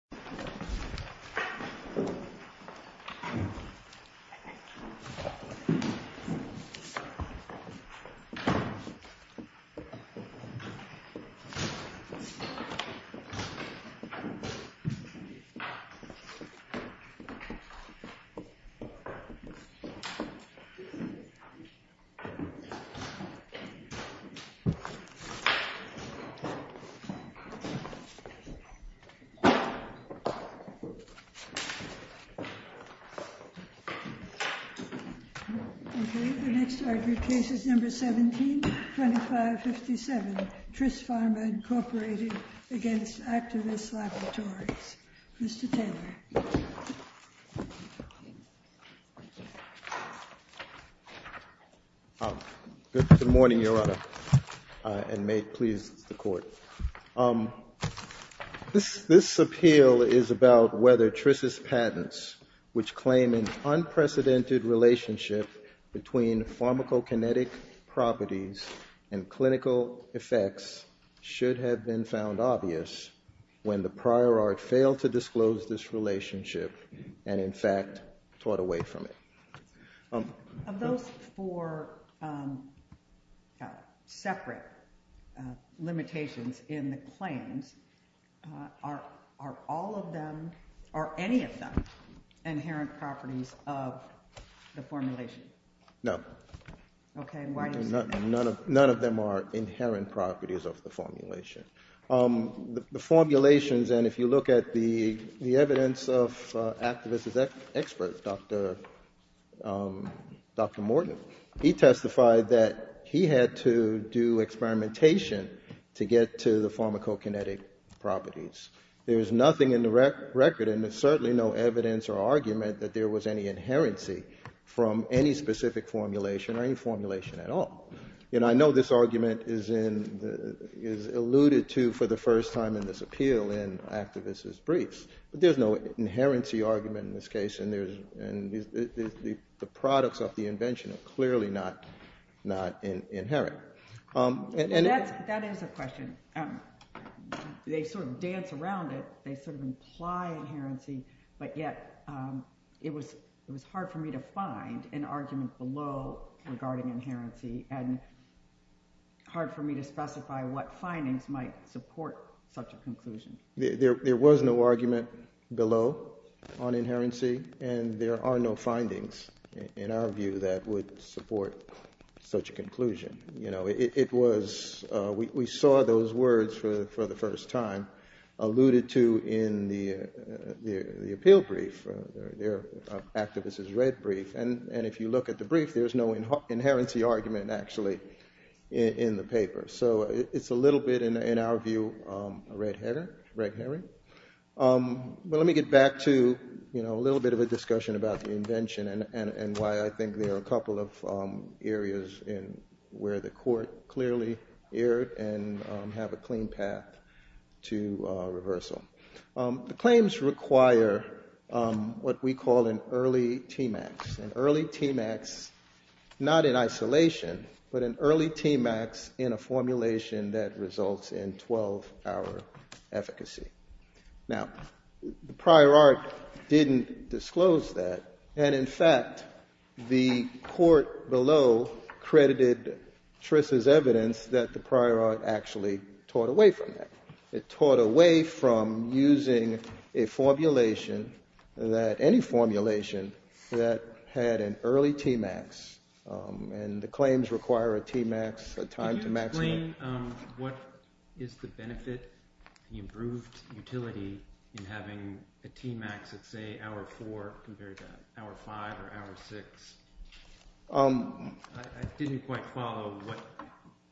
Actavis Laboratories, FL, Inc. v. Actavis Laboratories, FL, Inc. Okay, the next argued case is No. 17-2557, Tris Pharma, Inc. v. Actavis Laboratories. Mr. Taylor. Good morning, Your Honor, and may it please the Court. This appeal is about whether Tris' patents, which claim an unprecedented relationship between pharmacokinetic properties and clinical effects, should have been found obvious when the prior art failed to disclose this relationship and, in fact, taught away from it. Of those four separate limitations in the claims, are all of them, or any of them, inherent properties of the formulation? No. Okay, and why do you say that? None of them are inherent properties of the formulation. The formulations, and if you look at the evidence of Actavis' experts, Dr. Morton, he testified that he had to do experimentation to get to the pharmacokinetic properties. There is nothing in the record, and there's certainly no evidence or argument that there was any inherency from any specific formulation or any formulation at all. And I know this argument is alluded to for the first time in this appeal in Actavis' briefs, but there's no inherency argument in this case, and the products of the invention are clearly not inherent. That is a question. They sort of dance around it. They sort of imply inherency, but yet it was hard for me to find an argument below regarding inherency and hard for me to specify what findings might support such a conclusion. There was no argument below on inherency, and there are no findings in our view that would support such a conclusion. We saw those words for the first time alluded to in the appeal brief, Actavis' red brief, and if you look at the brief, there's no inherency argument actually in the paper. So it's a little bit, in our view, a red herring. But let me get back to a little bit of a discussion about the invention and why I think there are a couple of areas where the court clearly erred and have a clean path to reversal. The claims require what we call an early TMAX. An early TMAX, not in isolation, but an early TMAX in a formulation that results in 12-hour efficacy. Now, the prior art didn't disclose that, and in fact, the court below credited Tris' evidence that the prior art actually taught away from that. It taught away from using a formulation that, any formulation that had an early TMAX, and the claims require a TMAX, a time to maximum. Can you explain what is the benefit, the improved utility, in having a TMAX at, say, hour four, compared to hour five or hour six? I didn't quite follow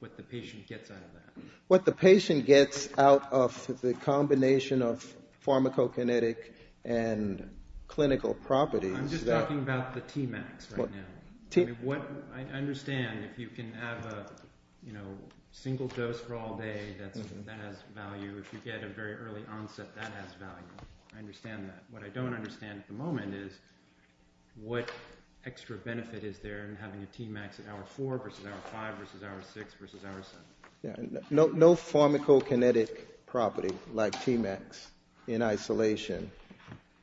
what the patient gets out of that. What the patient gets out of the combination of pharmacokinetic and clinical properties. I'm just talking about the TMAX right now. I understand if you can have a single dose for all day, that has value. If you get a very early onset, that has value. I understand that. What I don't understand at the moment is what extra benefit is there in having a TMAX at hour four versus hour five versus hour six versus hour seven. No pharmacokinetic property like TMAX in isolation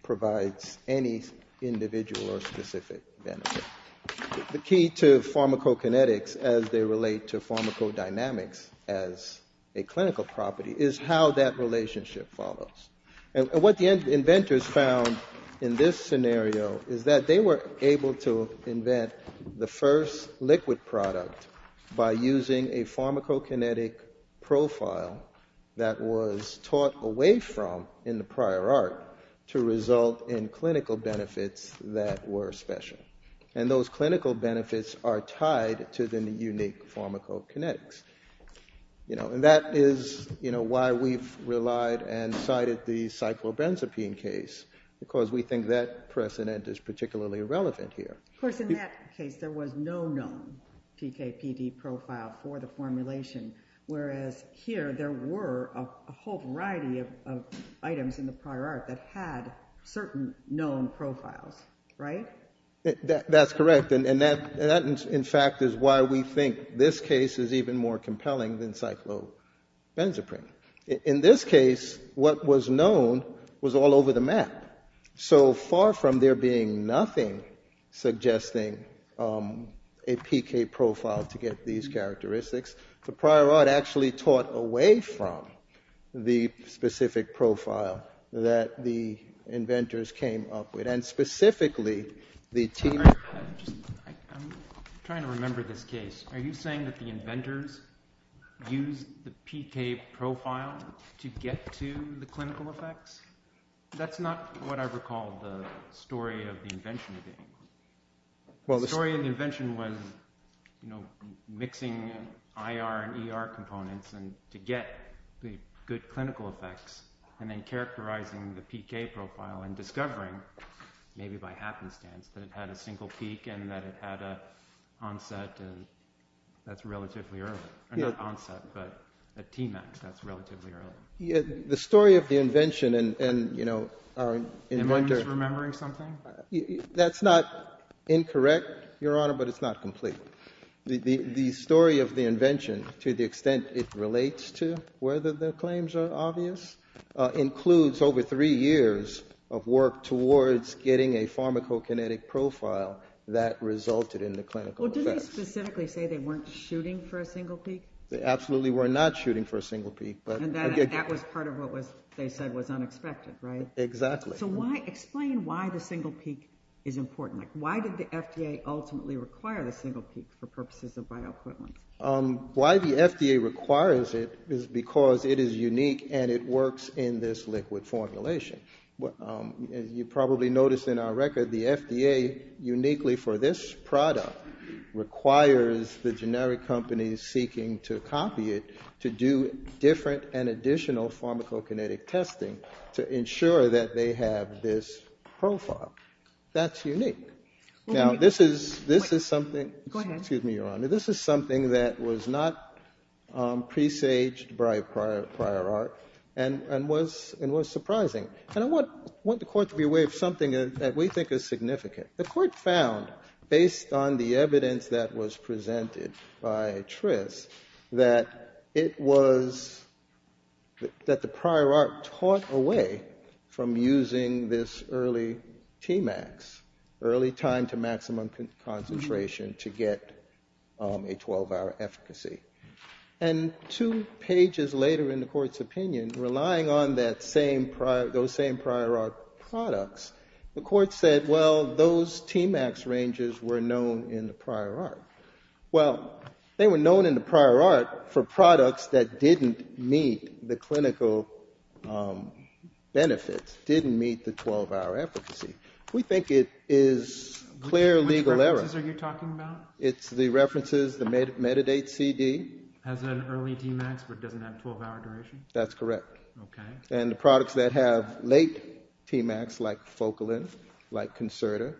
provides any individual or specific benefit. The key to pharmacokinetics, as they relate to pharmacodynamics as a clinical property, is how that relationship follows. And what the inventors found in this scenario is that they were able to invent the first liquid product by using a pharmacokinetic profile that was taught away from in the prior art to result in clinical benefits that were special. And those clinical benefits are tied to the unique pharmacokinetics. And that is why we've relied and cited the cyclobenzapine case, because we think that precedent is particularly relevant here. Of course, in that case, there was no known PKPD profile for the formulation, whereas here there were a whole variety of items in the prior art that had certain known profiles, right? That's correct. And that, in fact, is why we think this case is even more compelling than cyclobenzaprine. In this case, what was known was all over the map. So far from there being nothing suggesting a PK profile to get these characteristics, the prior art actually taught away from the specific profile that the inventors came up with. I'm trying to remember this case. Are you saying that the inventors used the PK profile to get to the clinical effects? That's not what I recall the story of the invention being. The story of the invention was mixing IR and ER components to get the good clinical effects and then characterizing the PK profile and discovering, maybe by happenstance, that it had a single peak and that it had an onset, and that's relatively early. Not onset, but at Tmax, that's relatively early. The story of the invention and, you know, our inventor— Am I just remembering something? That's not incorrect, Your Honor, but it's not complete. The story of the invention, to the extent it relates to whether the claims are obvious, includes over three years of work towards getting a pharmacokinetic profile that resulted in the clinical effects. Well, didn't they specifically say they weren't shooting for a single peak? They absolutely were not shooting for a single peak. And that was part of what they said was unexpected, right? Exactly. So explain why the single peak is important. Why did the FDA ultimately require the single peak for purposes of bioequipment? Why the FDA requires it is because it is unique and it works in this liquid formulation. As you probably noticed in our record, the FDA, uniquely for this product, requires the generic companies seeking to copy it to do different and additional pharmacokinetic testing to ensure that they have this profile. That's unique. Now, this is something— Go ahead. Excuse me, Your Honor. This is something that was not presaged by prior art and was surprising. And I want the Court to be aware of something that we think is significant. The Court found, based on the evidence that was presented by Triss, that the prior art taught away from using this early Tmax, early time to maximum concentration, to get a 12-hour efficacy. And two pages later in the Court's opinion, relying on those same prior art products, the Court said, well, those Tmax ranges were known in the prior art. Well, they were known in the prior art for products that didn't meet the clinical benefits, didn't meet the 12-hour efficacy. We think it is clear legal error. Which references are you talking about? It's the references, the Metadate CD. Has an early Tmax but doesn't have 12-hour duration? That's correct. Okay. And the products that have late Tmax, like Focalin, like Concerta,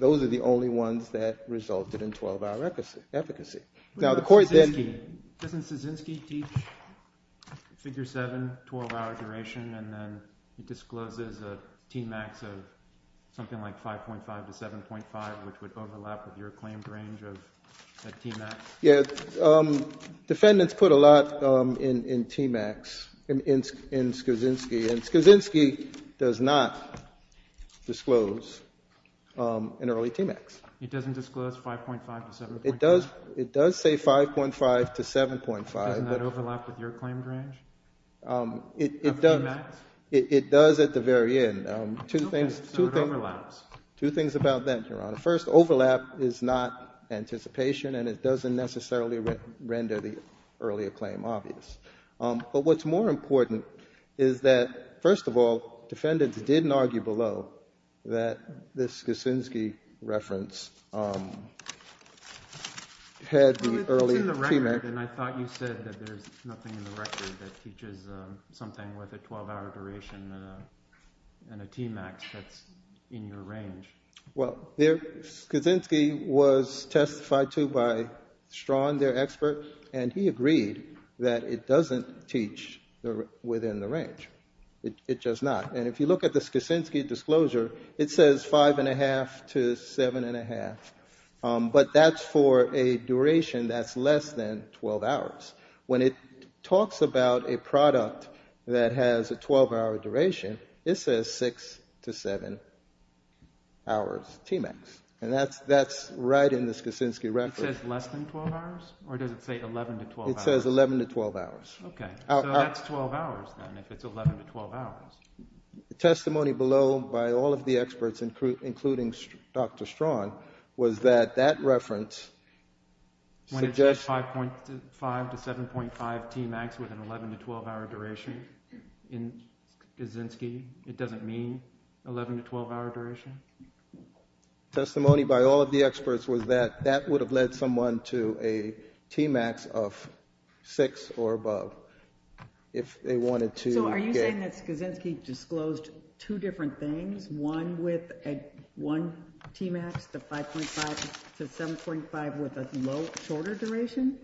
those are the only ones that resulted in 12-hour efficacy. Now, the Court then... Doesn't Skrzynski teach Figure 7, 12-hour duration, and then he discloses a Tmax of something like 5.5 to 7.5, which would overlap with your claimed range of a Tmax? Yeah. Defendants put a lot in Tmax, in Skrzynski, and Skrzynski does not disclose an early Tmax. He doesn't disclose 5.5 to 7.5? It does say 5.5 to 7.5. Doesn't that overlap with your claimed range of Tmax? It does at the very end. Okay. So it overlaps. Two things about that, Your Honor. First, overlap is not anticipation, and it doesn't necessarily render the earlier claim obvious. But what's more important is that, first of all, defendants didn't argue below that this Skrzynski reference had the early Tmax. Well, it's in the record, and I thought you said that there's nothing in the record that teaches something with a 12-hour duration and a Tmax that's in your range. Well, Skrzynski was testified to by Strachan, their expert, and he agreed that it doesn't teach within the range. It does not. And if you look at the Skrzynski disclosure, it says 5.5 to 7.5, but that's for a duration that's less than 12 hours. When it talks about a product that has a 12-hour duration, it says 6 to 7 hours Tmax, and that's right in the Skrzynski reference. It says less than 12 hours, or does it say 11 to 12 hours? It says 11 to 12 hours. Okay. So that's 12 hours, then, if it's 11 to 12 hours. The testimony below by all of the experts, including Dr. Strachan, was that that reference suggests that... When it says 5.5 to 7.5 Tmax with an 11 to 12-hour duration in Skrzynski, it doesn't mean 11 to 12-hour duration? The testimony by all of the experts was that that would have led someone to a Tmax of 6 or above if they wanted to get... So are you saying that Skrzynski disclosed two different things, one Tmax to 5.5 to 7.5 with a shorter duration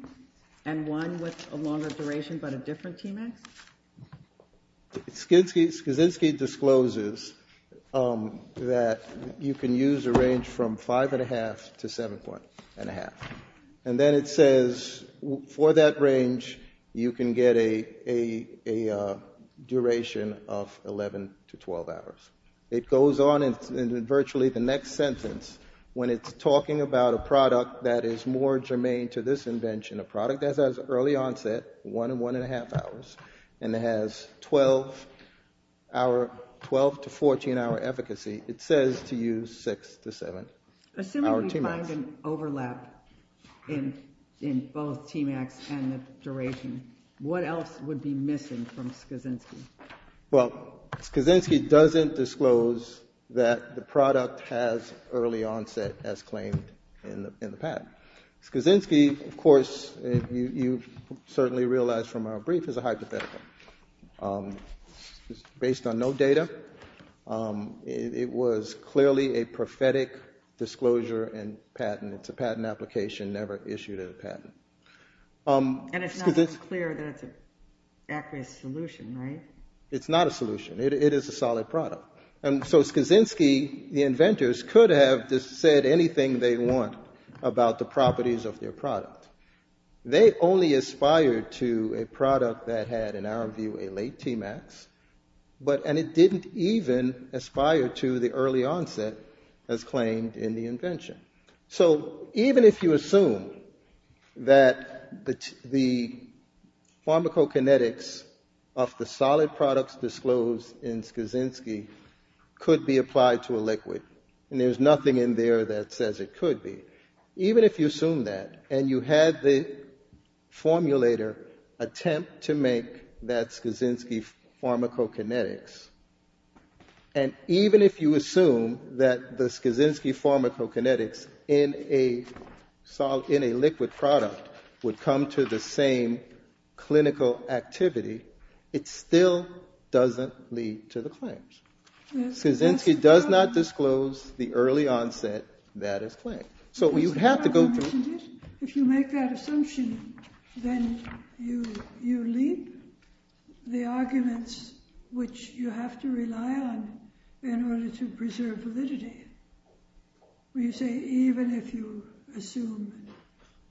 and one with a longer duration but a different Tmax? Skrzynski discloses that you can use a range from 5.5 to 7.5, and then it says for that range you can get a duration of 11 to 12 hours. It goes on in virtually the next sentence when it's talking about a product that is more germane to this invention, a product that has early onset, one and one-and-a-half hours, and it has 12- to 14-hour efficacy. It says to use 6 to 7-hour Tmax. Assuming we find an overlap in both Tmax and the duration, what else would be missing from Skrzynski? Well, Skrzynski doesn't disclose that the product has early onset as claimed in the patent. Skrzynski, of course, you certainly realize from our brief, is a hypothetical. It's based on no data. It was clearly a prophetic disclosure and patent. It's a patent application never issued as a patent. And it's not clear that it's an accurate solution, right? It's not a solution. It is a solid product. And so Skrzynski, the inventors, could have said anything they want about the properties of their product. They only aspired to a product that had, in our view, a late Tmax, and it didn't even aspire to the early onset as claimed in the invention. So even if you assume that the pharmacokinetics of the solid products disclosed in Skrzynski could be applied to a liquid, and there's nothing in there that says it could be, even if you assume that and you had the formulator attempt to make that Skrzynski pharmacokinetics, and even if you assume that the Skrzynski pharmacokinetics in a liquid product would come to the same clinical activity, it still doesn't lead to the claims. Skrzynski does not disclose the early onset that is claimed. So you have to go through. If you make that assumption, then you leave the arguments which you have to rely on in order to preserve validity. You say even if you assume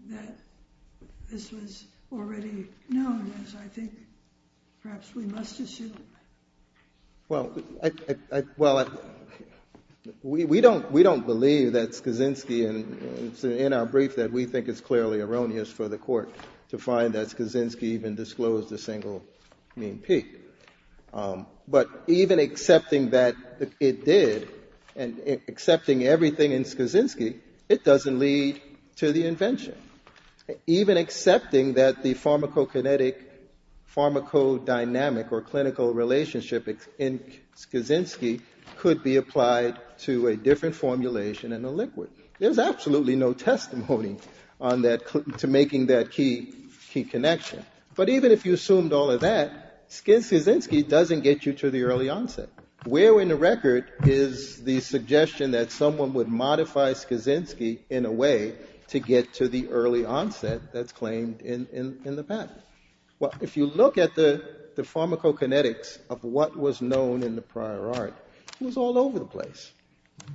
that this was already known, as I think perhaps we must assume. Well, we don't believe that Skrzynski, and it's in our brief that we think it's clearly erroneous for the court to find that Skrzynski even disclosed a single mean peak. But even accepting that it did and accepting everything in Skrzynski, it doesn't lead to the invention. Even accepting that the pharmacokinetic, pharmacodynamic or clinical relationship in Skrzynski could be applied to a different formulation in a liquid. There's absolutely no testimony to making that key connection. But even if you assumed all of that, Skrzynski doesn't get you to the early onset. Where in the record is the suggestion that someone would modify Skrzynski in a way to get to the early onset that's claimed in the patent? Well, if you look at the pharmacokinetics of what was known in the prior art, it was all over the place.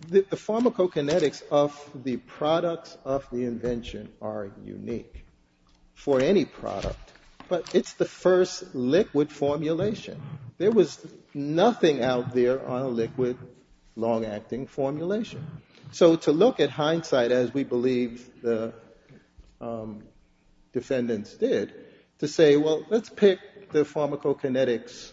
The pharmacokinetics of the products of the invention are unique for any product, but it's the first liquid formulation. There was nothing out there on a liquid long-acting formulation. So to look at hindsight, as we believe the defendants did, to say, well, let's pick the pharmacokinetics,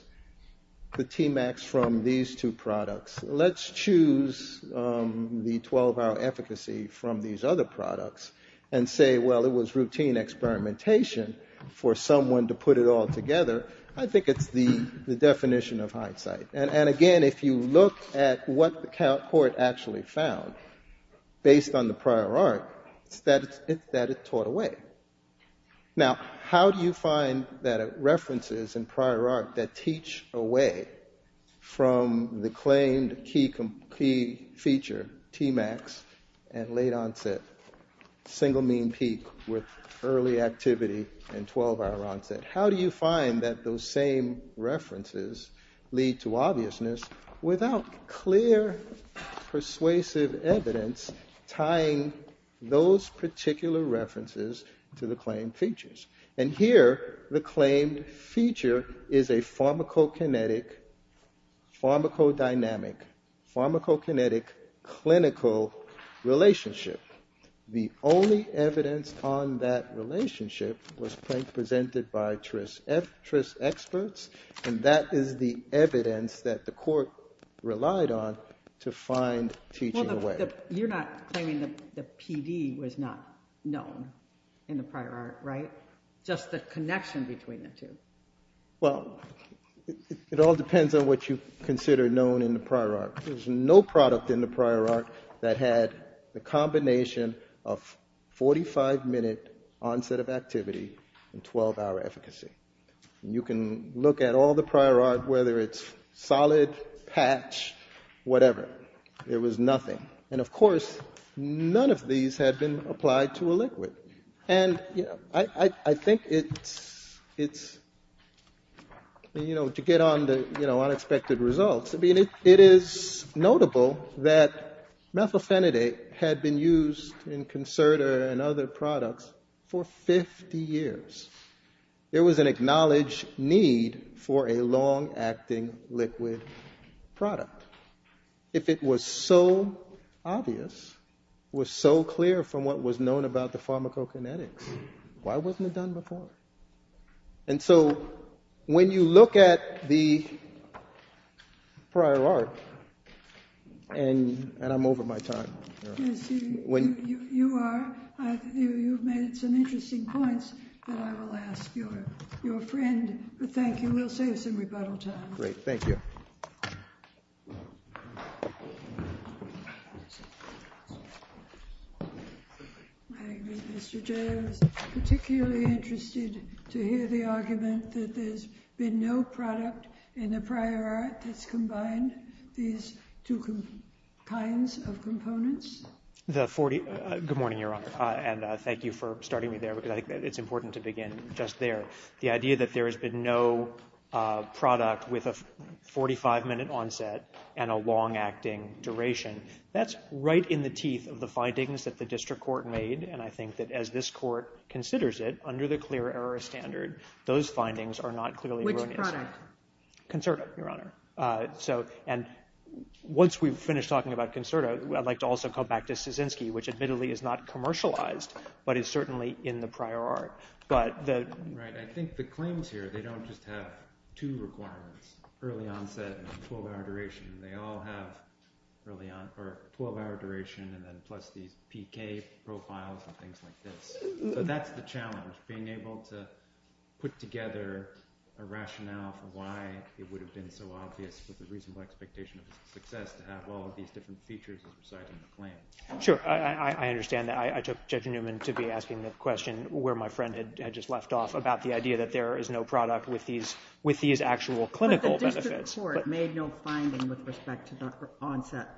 the TMAX, from these two products. Let's choose the 12-hour efficacy from these other products and say, well, it was routine experimentation for someone to put it all together. I think it's the definition of hindsight. And, again, if you look at what the court actually found based on the prior art, it's that it's taught away. Now, how do you find that references in prior art that teach away from the claimed key feature, TMAX and late onset, single mean peak with early activity and 12-hour onset, how do you find that those same references lead to obviousness without clear persuasive evidence tying those particular references to the claimed features? And here the claimed feature is a pharmacokinetic, pharmacodynamic, pharmacokinetic clinical relationship. The only evidence on that relationship was presented by TRIS experts, and that is the evidence that the court relied on to find teaching away. You're not claiming that the PD was not known in the prior art, right? Just the connection between the two. Well, it all depends on what you consider known in the prior art. There's no product in the prior art that had the combination of 45-minute onset of activity and 12-hour efficacy. You can look at all the prior art, whether it's solid, patch, whatever. It was nothing. And, of course, none of these had been applied to a liquid. And, you know, I think it's, you know, to get on the, you know, unexpected results. I mean, it is notable that methylphenidate had been used in Concerta and other products for 50 years. There was an acknowledged need for a long-acting liquid product. If it was so obvious, was so clear from what was known about the pharmacokinetics, why wasn't it done before? And so when you look at the prior art, and I'm over my time. Yes, you are. You've made some interesting points that I will ask your friend. Thank you. We'll save some rebuttal time. Great, thank you. Mr. Jay, I was particularly interested to hear the argument that there's been no product in the prior art that's combined these two kinds of components. Good morning, Your Honor, and thank you for starting me there because I think it's important to begin just there. The idea that there has been no product with a 45-minute onset and a long-acting duration, that's right in the teeth of the findings that the district court made, and I think that as this court considers it, under the clear error standard, those findings are not clearly run into. Which product? Concerta, Your Honor. And once we've finished talking about Concerta, I'd like to also come back to Staszynski, which admittedly is not commercialized, but is certainly in the prior art. Right, I think the claims here, they don't just have two requirements, early onset and 12-hour duration. They all have 12-hour duration and then plus these PK profiles and things like this. So that's the challenge, being able to put together a rationale for why it would have been so obvious with the reasonable expectation of success to have all of these different features as we're citing the claim. Sure, I understand that. I took Judge Newman to be asking the question where my friend had just left off about the idea that there is no product with these actual clinical benefits. But the district court made no finding with respect to the onset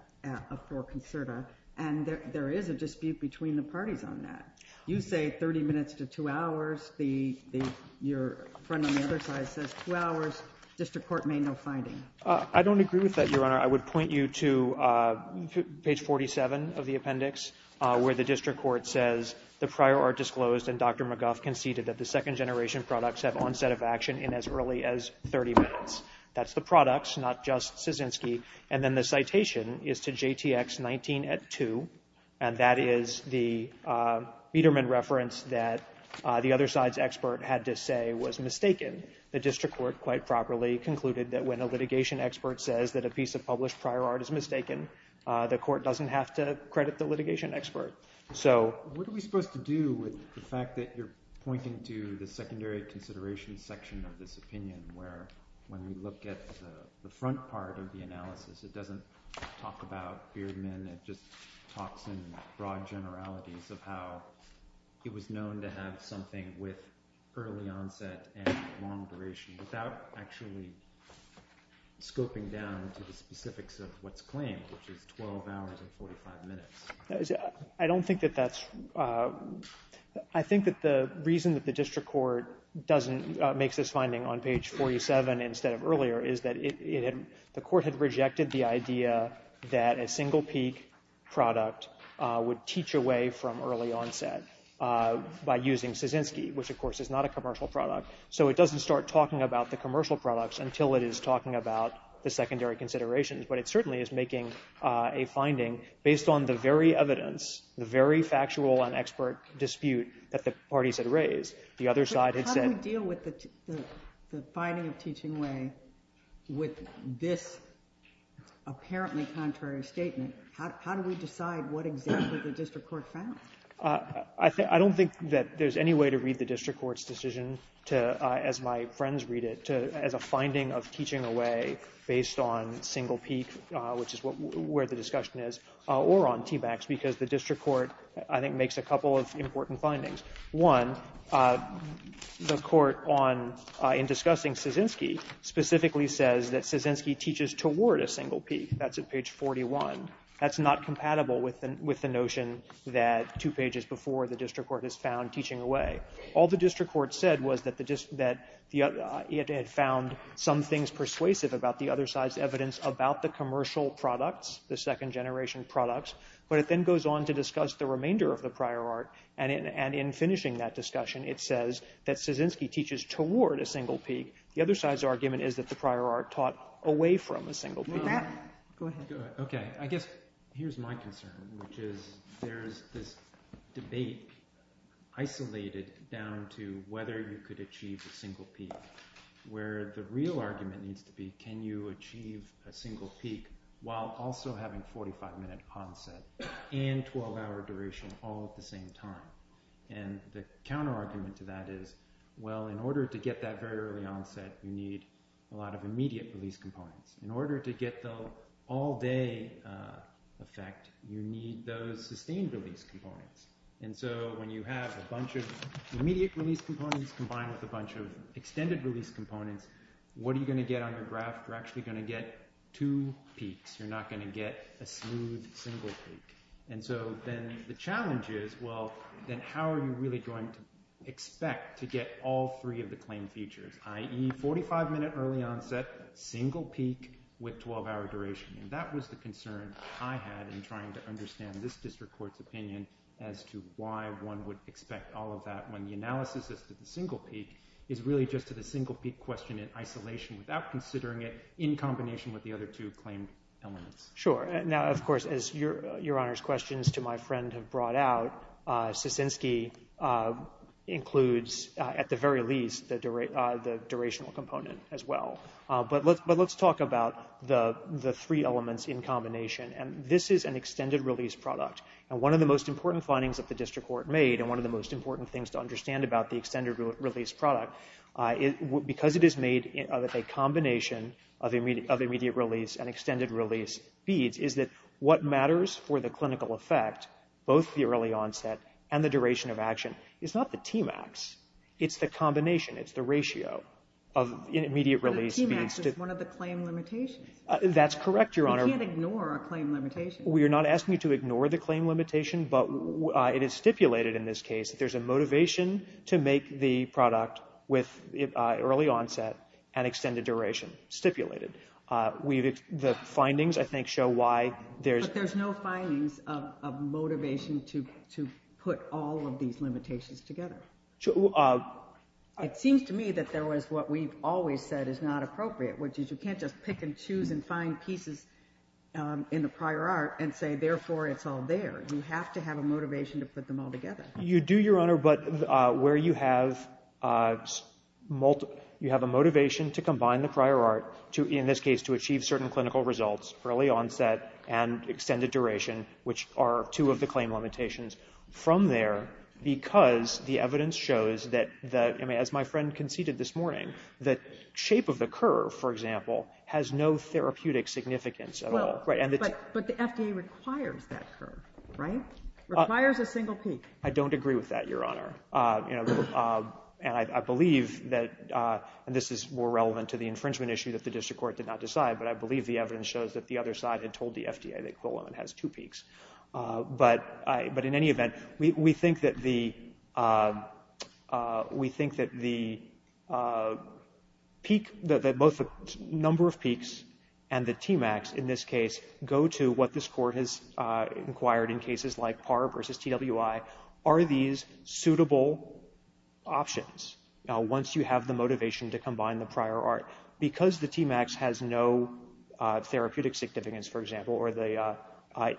for Concerta, and there is a dispute between the parties on that. You say 30 minutes to 2 hours. Your friend on the other side says 2 hours. District court made no finding. I don't agree with that, Your Honor. I would point you to page 47 of the appendix where the district court says the prior art disclosed and Dr. McGuff conceded that the second-generation products have onset of action in as early as 30 minutes. That's the products, not just Kaczynski. And then the citation is to JTX 19 at 2, and that is the Biederman reference that the other side's expert had to say was mistaken. The district court quite properly concluded that when a litigation expert says that a piece of published prior art is mistaken, the court doesn't have to credit the litigation expert. So what are we supposed to do with the fact that you're pointing to the secondary consideration section of this opinion where when we look at the front part of the analysis, it doesn't talk about Biederman. It just talks in broad generalities of how it was known to have something with early onset and long duration without actually scoping down to the specifics of what's claimed, which is 12 hours and 45 minutes. I don't think that that's – I think that the reason that the district court doesn't – makes this finding on page 47 instead of earlier is that it – the court had rejected the idea that a single peak product would teach away from early onset by using Kaczynski, which of course is not a commercial product. So it doesn't start talking about the commercial products until it is talking about the secondary considerations, but it certainly is making a finding based on the very evidence, the very factual and expert dispute that the parties had raised. But how do we deal with the finding of teaching away with this apparently contrary statement? How do we decide what exactly the district court found? I don't think that there's any way to read the district court's decision as my friends read it as a finding of teaching away based on single peak, which is where the discussion is, or on TBACs because the district court, I think, makes a couple of important findings. One, the court on – in discussing Kaczynski specifically says that Kaczynski teaches toward a single peak. That's at page 41. That's not compatible with the notion that two pages before the district court has found teaching away. All the district court said was that it had found some things persuasive about the other side's evidence about the commercial products, the second generation products, but it then goes on to discuss the remainder of the prior art, and in finishing that discussion, it says that Kaczynski teaches toward a single peak. The other side's argument is that the prior art taught away from a single peak. Go ahead. Okay, I guess here's my concern, which is there's this debate isolated down to whether you could achieve a single peak where the real argument needs to be can you achieve a single peak while also having 45-minute onset and 12-hour duration all at the same time. And the counterargument to that is, well, in order to get that very early onset, you need a lot of immediate release components. In order to get the all-day effect, you need those sustained release components. And so when you have a bunch of immediate release components combined with a bunch of extended release components, what are you going to get on your graph? You're actually going to get two peaks. You're not going to get a smooth single peak. And so then the challenge is, well, then how are you really going to expect to get all three of the claimed features, i.e., 45-minute early onset, single peak with 12-hour duration? And that was the concern I had in trying to understand this district court's opinion as to why one would expect all of that when the analysis is that the single peak is really just a single peak question in isolation without considering it in combination with the other two claimed elements. Sure. Now, of course, as Your Honor's questions to my friend have brought out, Sissinsky includes at the very least the durational component as well. But let's talk about the three elements in combination. And this is an extended release product. And one of the most important findings that the district court made and one of the most important things to understand about the extended release product, because it is made of a combination of immediate release and extended release beads, is that what matters for the clinical effect, both the early onset and the duration of action, is not the Tmax. It's the combination. It's the ratio of immediate release beads. But the Tmax is one of the claim limitations. That's correct, Your Honor. We can't ignore a claim limitation. We are not asking you to ignore the claim limitation, but it is stipulated in this case that there's a motivation to make the product with early onset and extended duration stipulated. The findings, I think, show why there's… It seems to me that there was what we've always said is not appropriate, which is you can't just pick and choose and find pieces in the prior art and say, therefore, it's all there. You have to have a motivation to put them all together. You do, Your Honor, but where you have a motivation to combine the prior art, in this case to achieve certain clinical results, early onset and extended duration, which are two of the claim limitations, from there because the evidence shows that, as my friend conceded this morning, the shape of the curve, for example, has no therapeutic significance at all. But the FDA requires that curve, right? It requires a single peak. I don't agree with that, Your Honor. I believe that, and this is more relevant to the infringement issue that the district court did not decide, but I believe the evidence shows that the other side had told the FDA that Quillan has two peaks. But in any event, we think that the number of peaks and the TMAX, in this case, go to what this Court has inquired in cases like PAR versus TWI. Are these suitable options once you have the motivation to combine the prior art? Because the TMAX has no therapeutic significance, for example, or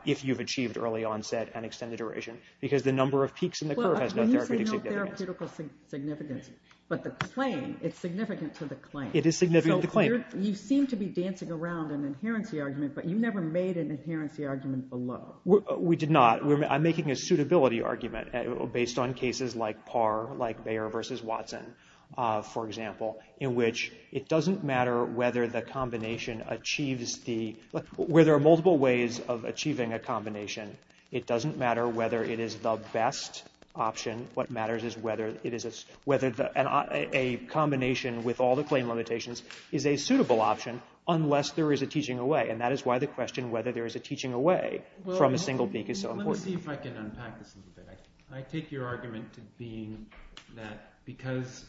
if you've achieved early onset and extended duration, because the number of peaks in the curve has no therapeutic significance. Well, when you say no therapeutic significance, but the claim, it's significant to the claim. It is significant to the claim. So you seem to be dancing around an inherency argument, but you never made an inherency argument below. We did not. I'm making a suitability argument based on cases like PAR, like Bayer versus Watson, for example, in which it doesn't matter whether the combination achieves the – where there are multiple ways of achieving a combination, it doesn't matter whether it is the best option. What matters is whether it is – whether a combination with all the claim limitations is a suitable option unless there is a teaching away. And that is why the question whether there is a teaching away from a single peak is so important. Let me see if I can unpack this a little bit. I take your argument to being that because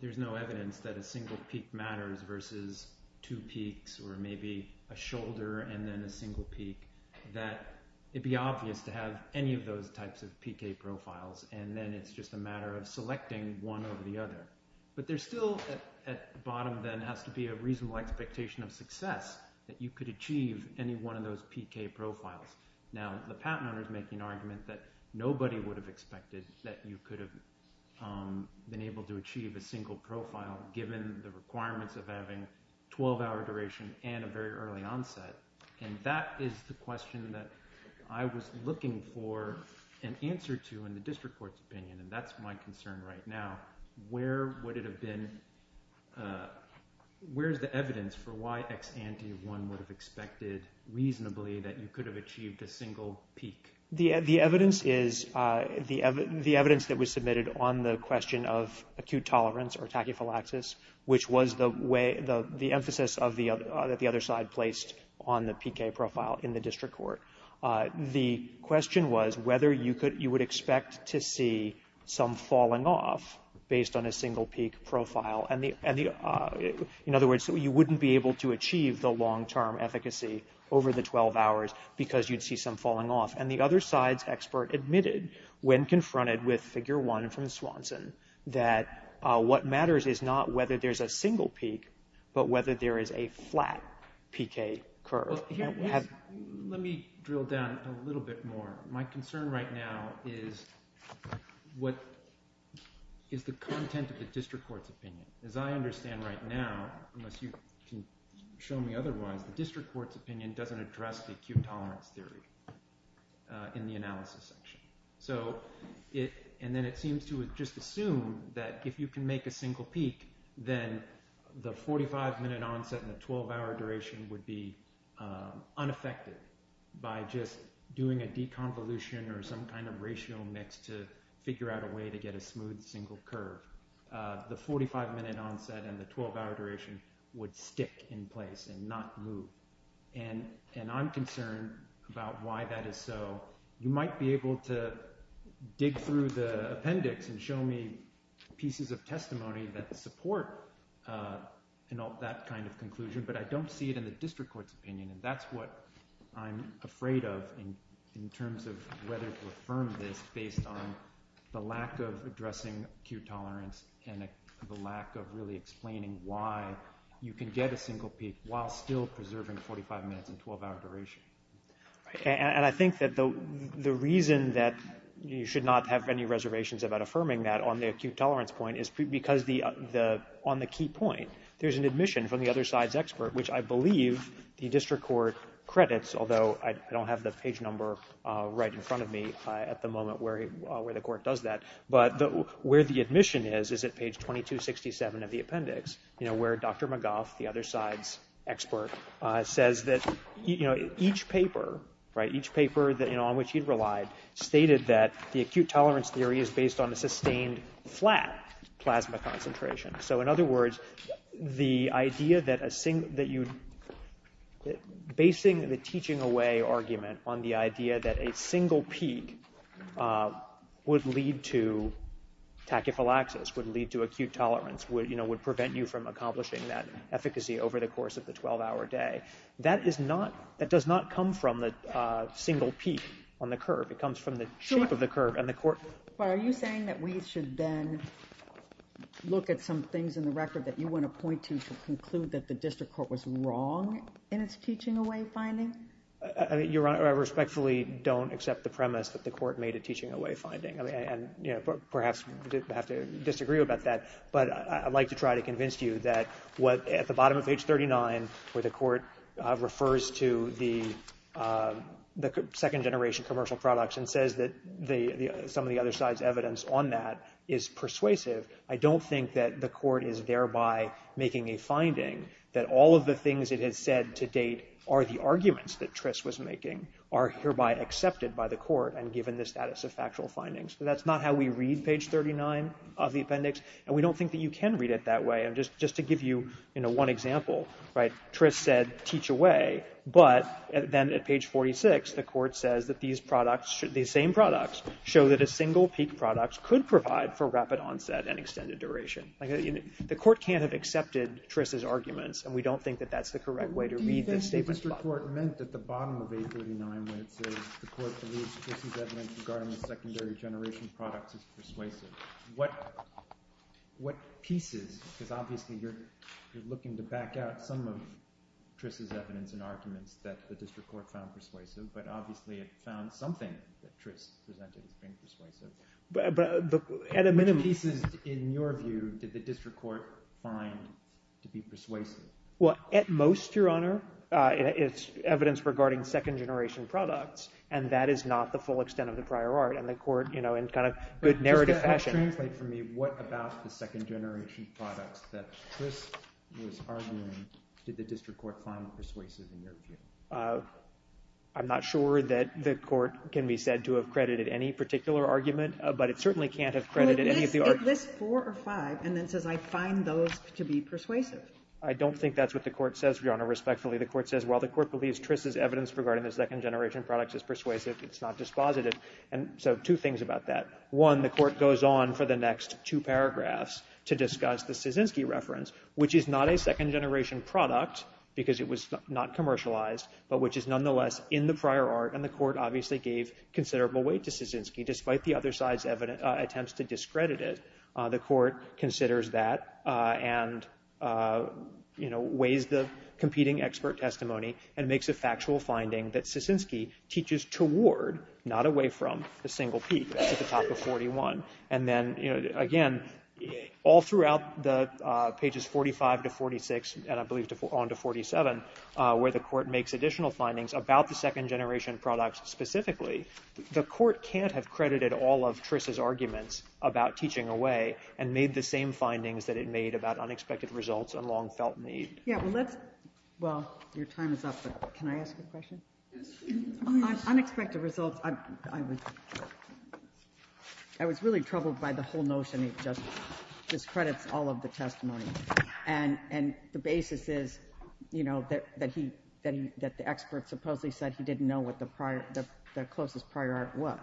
there's no evidence that a single peak matters versus two peaks or maybe a shoulder and then a single peak, that it would be obvious to have any of those types of PK profiles, and then it's just a matter of selecting one over the other. But there's still at the bottom then has to be a reasonable expectation of success that you could achieve any one of those PK profiles. Now, the patent owner is making an argument that nobody would have expected that you could have been able to achieve a single profile given the requirements of having 12-hour duration and a very early onset. And that is the question that I was looking for an answer to in the district court's opinion, and that's my concern right now. Where would it have been – where is the evidence for why ex ante one would have expected reasonably that you could have achieved a single peak? The evidence is the evidence that was submitted on the question of acute tolerance or tachyphylaxis, which was the emphasis that the other side placed on the PK profile in the district court. The question was whether you would expect to see some falling off based on a single peak profile. In other words, you wouldn't be able to achieve the long-term efficacy over the 12 hours because you'd see some falling off. And the other side's expert admitted when confronted with figure one from Swanson that what matters is not whether there's a single peak but whether there is a flat PK curve. Let me drill down a little bit more. My concern right now is what is the content of the district court's opinion. As I understand right now, unless you can show me otherwise, the district court's opinion doesn't address the acute tolerance theory in the analysis section. And then it seems to just assume that if you can make a single peak, then the 45-minute onset and the 12-hour duration would be unaffected. By just doing a deconvolution or some kind of ratio mix to figure out a way to get a smooth single curve, the 45-minute onset and the 12-hour duration would stick in place and not move. And I'm concerned about why that is so. You might be able to dig through the appendix and show me pieces of testimony that support that kind of conclusion, but I don't see it in the district court's opinion. And that's what I'm afraid of in terms of whether to affirm this based on the lack of addressing acute tolerance and the lack of really explaining why you can get a single peak while still preserving 45 minutes and 12-hour duration. And I think that the reason that you should not have any reservations about affirming that on the acute tolerance point is because on the key point, there's an admission from the other side's expert, which I believe the district court credits, although I don't have the page number right in front of me at the moment where the court does that. But where the admission is is at page 2267 of the appendix, where Dr. McGough, the other side's expert, says that each paper on which he relied stated that the acute tolerance theory is based on a sustained flat plasma concentration. So in other words, basing the teaching away argument on the idea that a single peak would lead to tachyphylaxis, would lead to acute tolerance, would prevent you from accomplishing that efficacy over the course of the 12-hour day, that does not come from the single peak on the curve. It comes from the shape of the curve. Are you saying that we should then look at some things in the record that you want to point to to conclude that the district court was wrong in its teaching away finding? I respectfully don't accept the premise that the court made a teaching away finding and perhaps have to disagree about that. But I'd like to try to convince you that at the bottom of page 39, where the court refers to the second-generation commercial products and says that some of the other side's evidence on that is persuasive, I don't think that the court is thereby making a finding that all of the things it has said to date are the arguments that Trist was making, are hereby accepted by the court and given the status of factual findings. That's not how we read page 39 of the appendix, and we don't think that you can read it that way. Just to give you one example, Trist said teach away, but then at page 46 the court says that these same products show that a single peak product could provide for rapid onset and extended duration. The court can't have accepted Trist's arguments, and we don't think that that's the correct way to read this statement. The district court meant at the bottom of page 39 when it says the court believes Trist's evidence regarding the secondary generation products is persuasive. What pieces – because obviously you're looking to back out some of Trist's evidence and arguments that the district court found persuasive, but obviously it found something that Trist presented as being persuasive. But at a minimum – What pieces, in your view, did the district court find to be persuasive? Well, at most, Your Honor, it's evidence regarding second generation products, and that is not the full extent of the prior art, and the court, you know, in kind of good narrative fashion – But just to help translate for me, what about the second generation products that Trist was arguing did the district court find persuasive in your view? I'm not sure that the court can be said to have credited any particular argument, but it certainly can't have credited any of the arguments. Well, it lists four or five and then says I find those to be persuasive. I don't think that's what the court says, Your Honor, respectfully. The court says, well, the court believes Trist's evidence regarding the second generation products is persuasive. It's not dispositive. And so two things about that. One, the court goes on for the next two paragraphs to discuss the Szczynski reference, which is not a second generation product because it was not commercialized, but which is nonetheless in the prior art, and the court obviously gave considerable weight to Szczynski despite the other side's attempts to discredit it. The court considers that and, you know, weighs the competing expert testimony and makes a factual finding that Szczynski teaches toward, not away from, the single peak at the top of 41. And then, you know, again, all throughout the pages 45 to 46, and I believe on to 47, where the court makes additional findings about the second generation products specifically, the court can't have credited all of Trist's arguments about teaching away and made the same findings that it made about unexpected results and long felt need. Yeah, well, let's... Well, your time is up, but can I ask a question? Unexpected results... I was really troubled by the whole notion it just discredits all of the testimony. And the basis is, you know, that the expert supposedly said he didn't know what the closest prior art was.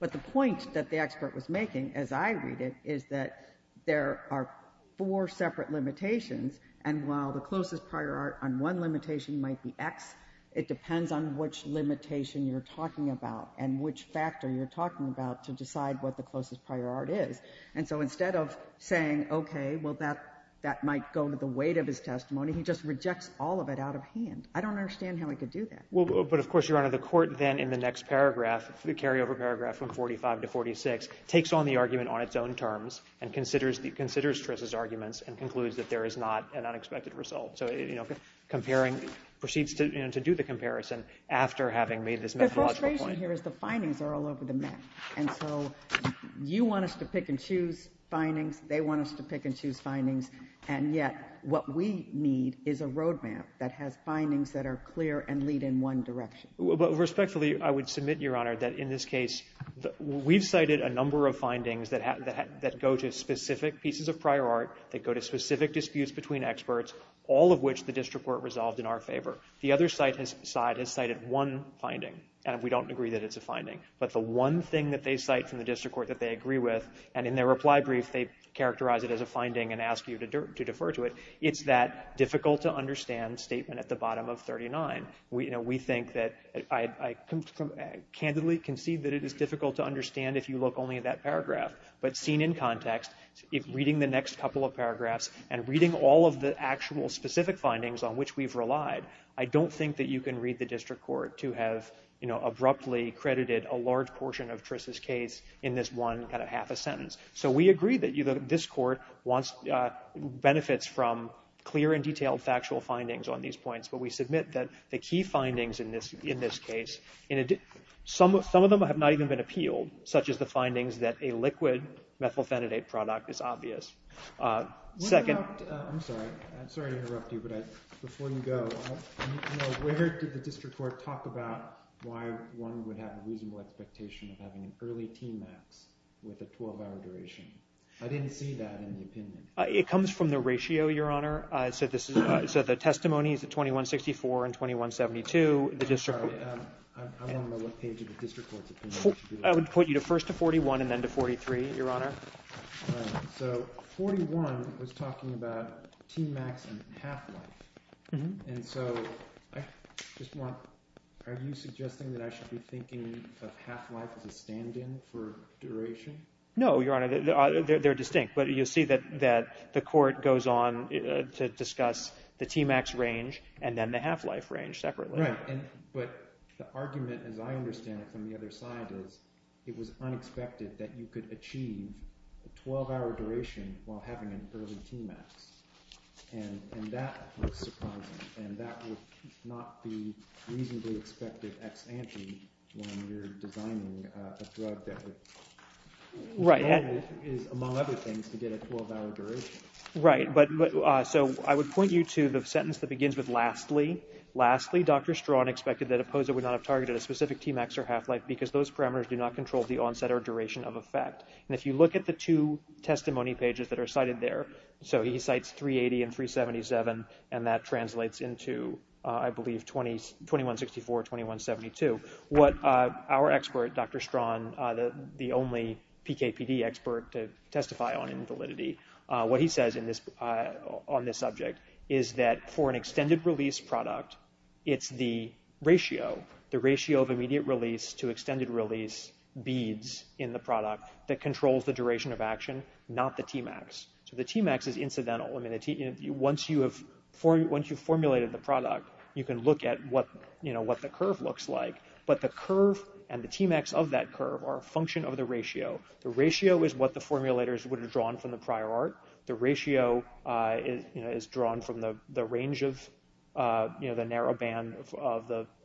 But the point that the expert was making, as I read it, is that there are four separate limitations, and while the closest prior art on one limitation might be X, it depends on which limitation you're talking about and which factor you're talking about to decide what the closest prior art is. And so instead of saying, okay, well, that might go to the weight of his testimony, he just rejects all of it out of hand. I don't understand how he could do that. Well, but of course, Your Honor, the court then, in the next paragraph, the carryover paragraph from 45 to 46, takes on the argument on its own terms and considers Triss's arguments and concludes that there is not an unexpected result. So, you know, comparing... proceeds to do the comparison after having made this methodological point. The frustration here is the findings are all over the map, and so you want us to pick and choose findings, they want us to pick and choose findings, and yet what we need is a road map that has findings that are clear and lead in one direction. Respectfully, I would submit, Your Honor, that in this case, we've cited a number of findings that go to specific pieces of prior art, that go to specific disputes between experts, all of which the district court resolved in our favor. The other side has cited one finding, and we don't agree that it's a finding, but the one thing that they cite from the district court that they agree with, and in their reply brief, they characterize it as a finding and ask you to defer to it, it's that difficult-to-understand statement at the bottom of 39. We think that, I candidly concede that it is difficult to understand if you look only at that paragraph, but seen in context, reading the next couple of paragraphs and reading all of the actual specific findings on which we've relied, I don't think that you can read the district court to have abruptly credited a large portion of Tris' case in this one kind of half a sentence. So we agree that this court wants benefits from clear and detailed factual findings on these points, but we submit that the key findings in this case, some of them have not even been appealed, such as the findings that a liquid methylphenidate product is obvious. Second... I'm sorry to interrupt you, but before you go, where did the district court talk about why one would have a reasonable expectation of having an early TMAX with a 12-hour duration? I didn't see that in the opinion. It comes from the ratio, Your Honor. So the testimony is at 2164 and 2172. I'm sorry. I want to know what page of the district court's opinion... I would put you first to 41 and then to 43, Your Honor. All right. So 41 was talking about TMAX and half-life. Mm-hmm. And so I just want... Are you suggesting that I should be thinking of half-life as a stand-in for duration? No, Your Honor. They're distinct, but you'll see that the court goes on to discuss the TMAX range and then the half-life range separately. Right, but the argument, as I understand it, from the other side is it was unexpected that you could achieve a 12-hour duration while having an early TMAX, and that was surprising, and that would not be reasonably expected ex ante when you're designing a drug that would... Right. The argument is, among other things, to get a 12-hour duration. Right. So I would point you to the sentence that begins with, lastly. Lastly, Dr. Strawn expected that OPOSA would not have targeted a specific TMAX or half-life because those parameters do not control the onset or duration of effect. And if you look at the two testimony pages that are cited there, so he cites 380 and 377, and that translates into, I believe, 2164, 2172. What our expert, Dr. Strawn, the only PKPD expert to testify on invalidity, what he says on this subject is that for an extended-release product, it's the ratio, the ratio of immediate release to extended-release beads in the product that controls the duration of action, not the TMAX. So the TMAX is incidental. Once you've formulated the product, you can look at what the curve looks like but the curve and the TMAX of that curve are a function of the ratio. The ratio is what the formulators would have drawn from the prior art. The ratio is drawn from the range of, you know, the narrow band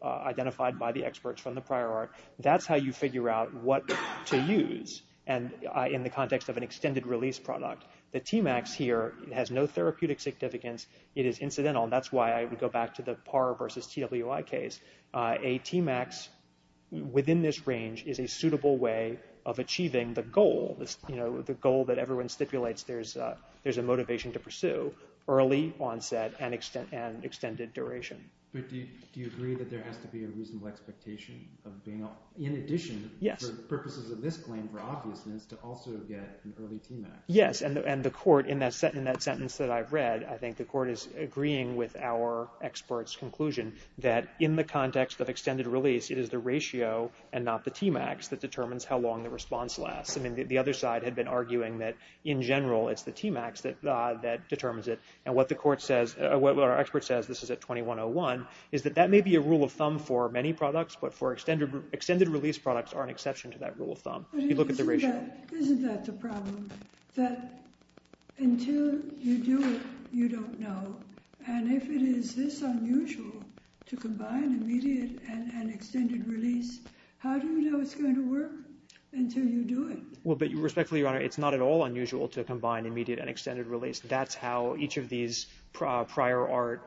identified by the experts from the prior art. That's how you figure out what to use in the context of an extended-release product. The TMAX here has no therapeutic significance. It is incidental, and that's why I would go back to the PAR versus TWI case. A TMAX within this range is a suitable way of achieving the goal, you know, the goal that everyone stipulates there's a motivation to pursue, early onset and extended duration. But do you agree that there has to be a reasonable expectation of being, in addition for purposes of this claim, for obviousness, to also get an early TMAX? Yes, and the court, in that sentence that I've read, I think the court is agreeing with our expert's conclusion that in the context of extended release, it is the ratio and not the TMAX that determines how long the response lasts. I mean, the other side had been arguing that, in general, it's the TMAX that determines it. And what the court says, what our expert says, this is at 2101, is that that may be a rule of thumb for many products, but for extended-release products are an exception to that rule of thumb. If you look at the ratio. Isn't that the problem? That until you do it, you don't know. And if it is this unusual to combine immediate and extended release, how do you know it's going to work until you do it? Well, but respectfully, Your Honor, it's not at all unusual to combine immediate and extended release. That's how each of these prior art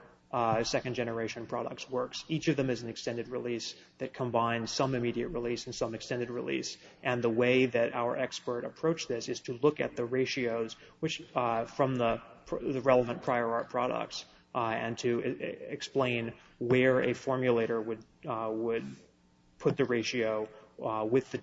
second-generation products works. Each of them is an extended release that combines some immediate release and some extended release. And the way that our expert approached this is to look at the ratios from the relevant prior art products and to explain where a formulator would put the ratio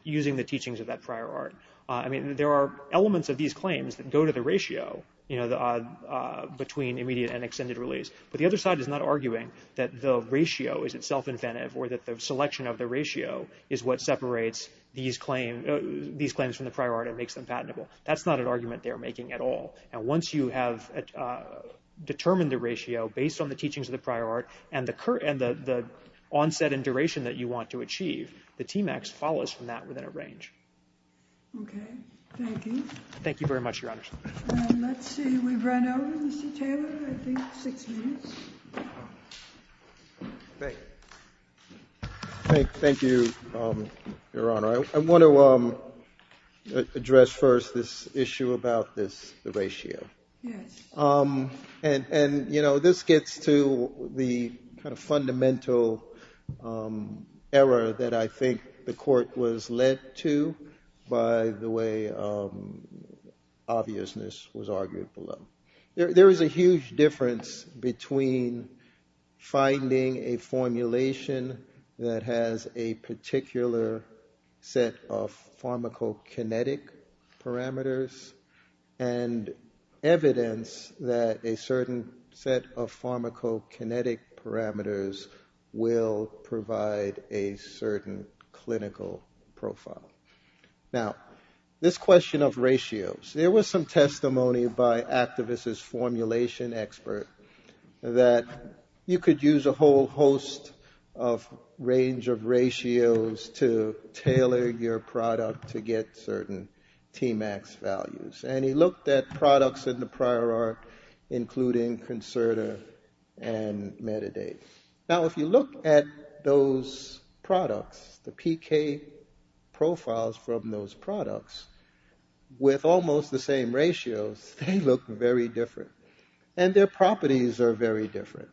using the teachings of that prior art. I mean, there are elements of these claims that go to the ratio between immediate and extended release. But the other side is not arguing that the ratio is itself inventive or that the selection of the ratio is what separates these claims from the prior art and makes them patentable. That's not an argument they're making at all. And once you have determined the ratio based on the teachings of the prior art and the onset and duration that you want to achieve, the TMAX follows from that within a range. Okay. Thank you. Thank you very much, Your Honor. And let's see. We've run over, Mr. Taylor, I think six minutes. Great. Thank you, Your Honor. I want to address first this issue about this ratio. Yes. And, you know, this gets to the kind of fundamental error that I think the Court was led to by the way obviousness was argued below. There is a huge difference between finding a formulation that has a particular set of pharmacokinetic parameters and evidence that a certain set of pharmacokinetic parameters will provide a certain clinical profile. Now, this question of ratios, there was some testimony by activists' formulation expert that you could use a whole host of range of ratios to tailor your product to get certain TMAX values. And he looked at products in the prior art including Concerta and Metadate. Now, if you look at those products, the PK profiles from those products, with almost the same ratios, they look very different. And their properties are very different.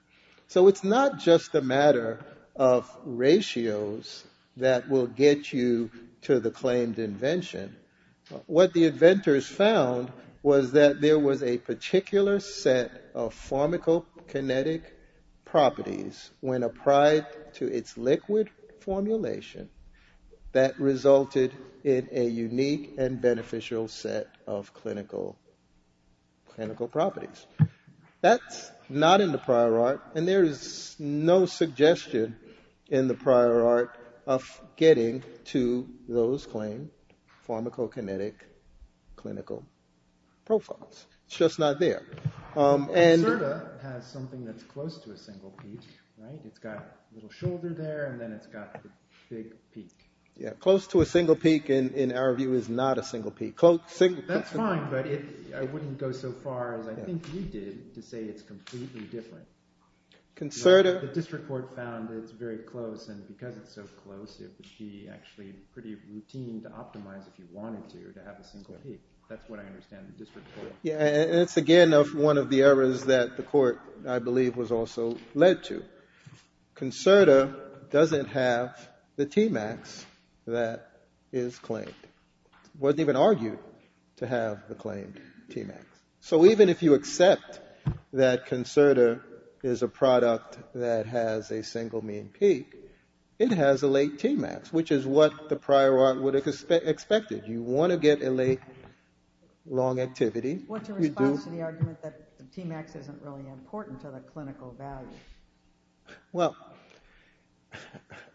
So it's not just a matter of ratios that will get you to the claimed invention. What the inventors found was that there was a particular set of pharmacokinetic properties when applied to its liquid formulation that resulted in a unique and beneficial set of clinical properties. That's not in the prior art. And there is no suggestion in the prior art of getting to those claimed pharmacokinetic clinical profiles. It's just not there. And Concerta has something that's close to a single peak, right? It's got a little shoulder there and then it's got the big peak. Yeah, close to a single peak, in our view, is not a single peak. That's fine, but I wouldn't go so far as I think you did to say it's completely different. Concerta... The district court found it's very close and because it's so close, it would be actually pretty routine to optimize if you wanted to, to have a single peak. That's what I understand the district court... Yeah, and it's, again, one of the errors that the court, I believe, was also led to. Concerta doesn't have the Tmax that is claimed. It wasn't even argued to have the claimed Tmax. So even if you accept that Concerta is a product that has a single mean peak, it has a late Tmax, which is what the prior art would have expected. You want to get a late, long activity... What's your response to the argument that the Tmax isn't really important to the clinical value? Well,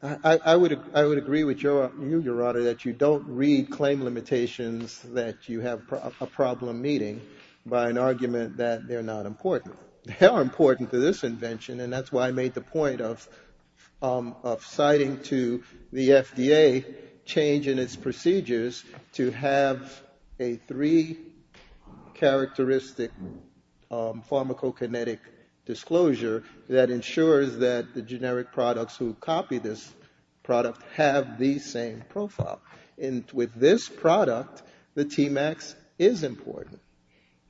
I would agree with you, Your Honor, that you don't read claim limitations that you have a problem meeting by an argument that they're not important. They are important to this invention and that's why I made the point of citing to the FDA change in its procedures to have a three characteristic pharmacokinetic disclosure that ensures that the generic products who copy this product have the same profile. And with this product, the Tmax is important.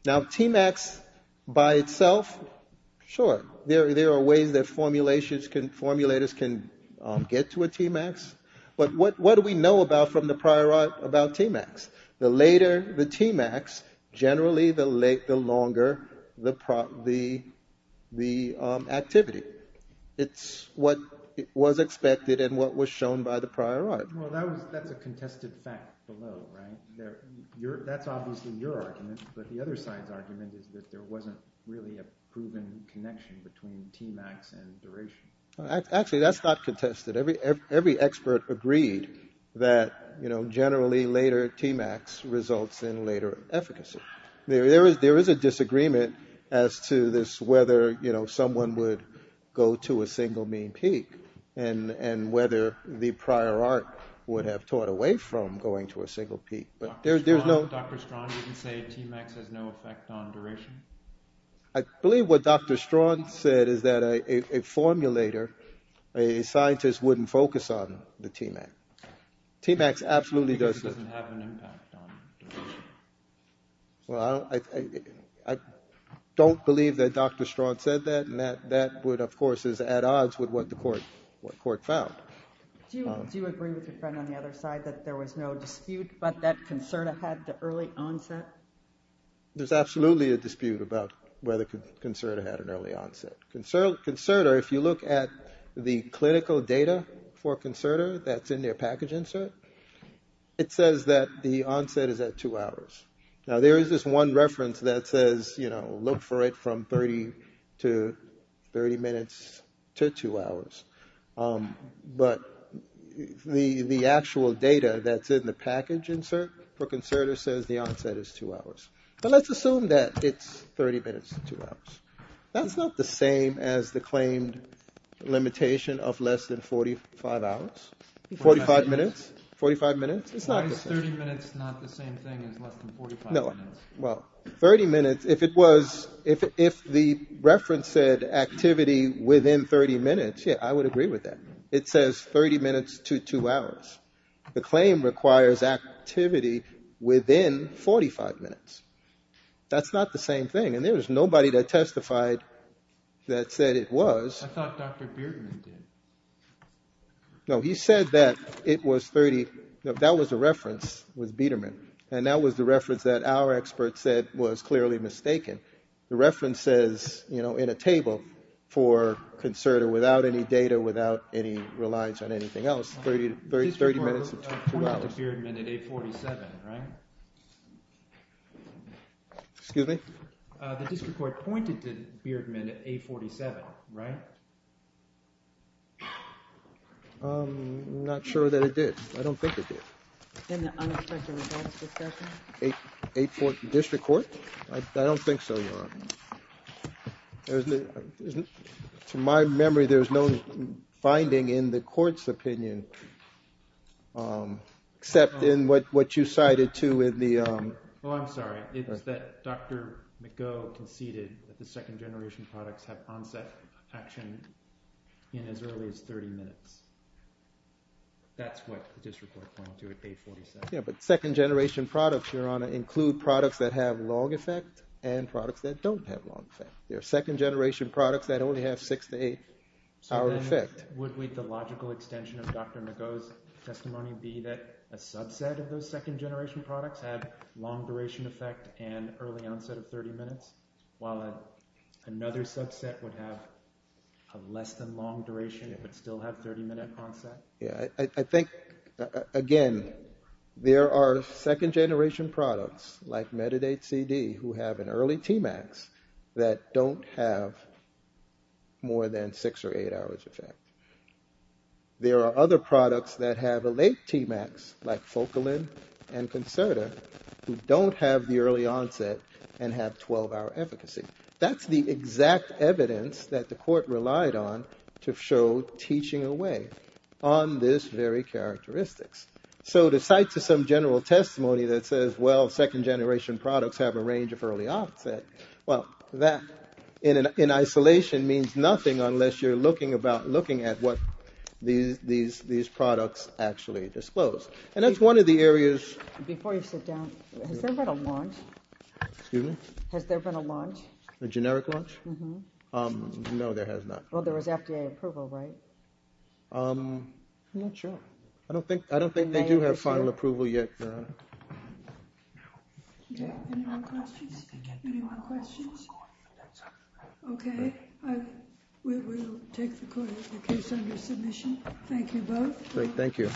Now, Tmax by itself, sure, there are ways that formulators can get to a Tmax, but what do we know about from the prior art about Tmax? The later the Tmax, generally the longer the activity. It's what was expected and what was shown by the prior art. Well, that's a contested fact below, right? That's obviously your argument, but the other side's argument is that there wasn't really a proven connection between Tmax and duration. Actually, that's not contested. Every expert agreed that generally later Tmax results in later efficacy. There is a disagreement as to this whether, you know, someone would go to a single mean peak and whether the prior art would have taught away from going to a single peak, but there's no... Dr. Strawn didn't say Tmax has no effect on duration? I believe what Dr. Strawn said is that a formulator, a scientist wouldn't focus on the Tmax. Tmax absolutely does... Because it doesn't have an impact on duration. Well, I don't believe that Dr. Strawn said that and that would, of course, is at odds with what the court found. Do you agree with your friend on the other side that there was no dispute but that Concerta had the early onset? There's absolutely a dispute about whether Concerta had an early onset. Concerta, if you look at the clinical data for Concerta that's in their package insert, it says that the onset is at two hours. Now, there is this one reference that says, you know, look for it from 30 minutes to two hours, but the actual data that's in the package insert for Concerta says the onset is two hours. But let's assume that it's 30 minutes to two hours. That's not the same as the claimed limitation of less than 45 hours, 45 minutes. It's not the same. Why is 30 minutes not the same thing as less than 45 minutes? No, well, 30 minutes, if it was, if the reference said activity within 30 minutes, yeah, I would agree with that. It says 30 minutes to two hours. The claim requires activity within 45 minutes. That's not the same thing and there was nobody that testified that said it was. I thought Dr. Beardman did. No, he said that it was 30. That was a reference with Beardman and that was the reference that our experts said was clearly mistaken. The reference says, you know, in a table for Concerta without any data, without any reliance on anything else, 30 minutes to two hours. The district court pointed to Beardman at 8.47, right? Excuse me? The district court pointed to Beardman at 8.47, right? I'm not sure that it did. I don't think it did. In the unexpected results discussion? 8.4 district court? I don't think so, Your Honor. To my memory, there's no finding in the court's opinion except in what you cited, too, in the... Oh, I'm sorry. It's that Dr. McGough conceded that the second generation products have onset action in as early as 30 minutes. That's what the district court pointed to at 8.47. Yeah, but second generation products, Your Honor, include products that have long effect and products that don't have long effect. There are second generation products that only have six to eight hour effect. So then would the logical extension of Dr. McGough's testimony be that a subset of those second generation products have long duration effect and early onset of 30 minutes while another subset would have a less than long duration but still have 30 minute onset? Yeah, I think, again, there are second generation products like Metadate CD who have an early Tmax that don't have more than six or eight hours effect. There are other products that have a late Tmax like Focalin and Concerta who don't have the early onset and have 12 hour efficacy. That's the exact evidence that the court relied on to show teaching away on this very characteristics. So to cite to some general testimony that says, well, second generation products have a range of early onset, well, that in isolation means nothing unless you're looking at what these products actually disclose. And that's one of the areas... Before you sit down, has there been a launch? Excuse me? Has there been a launch? A generic launch? Mm-hmm. No, there has not. Well, there was FDA approval, right? I'm not sure. I don't think they do have final approval yet, Your Honor. Any more questions? Any more questions? Okay, we will take the case under submission. Thank you both. Thank you.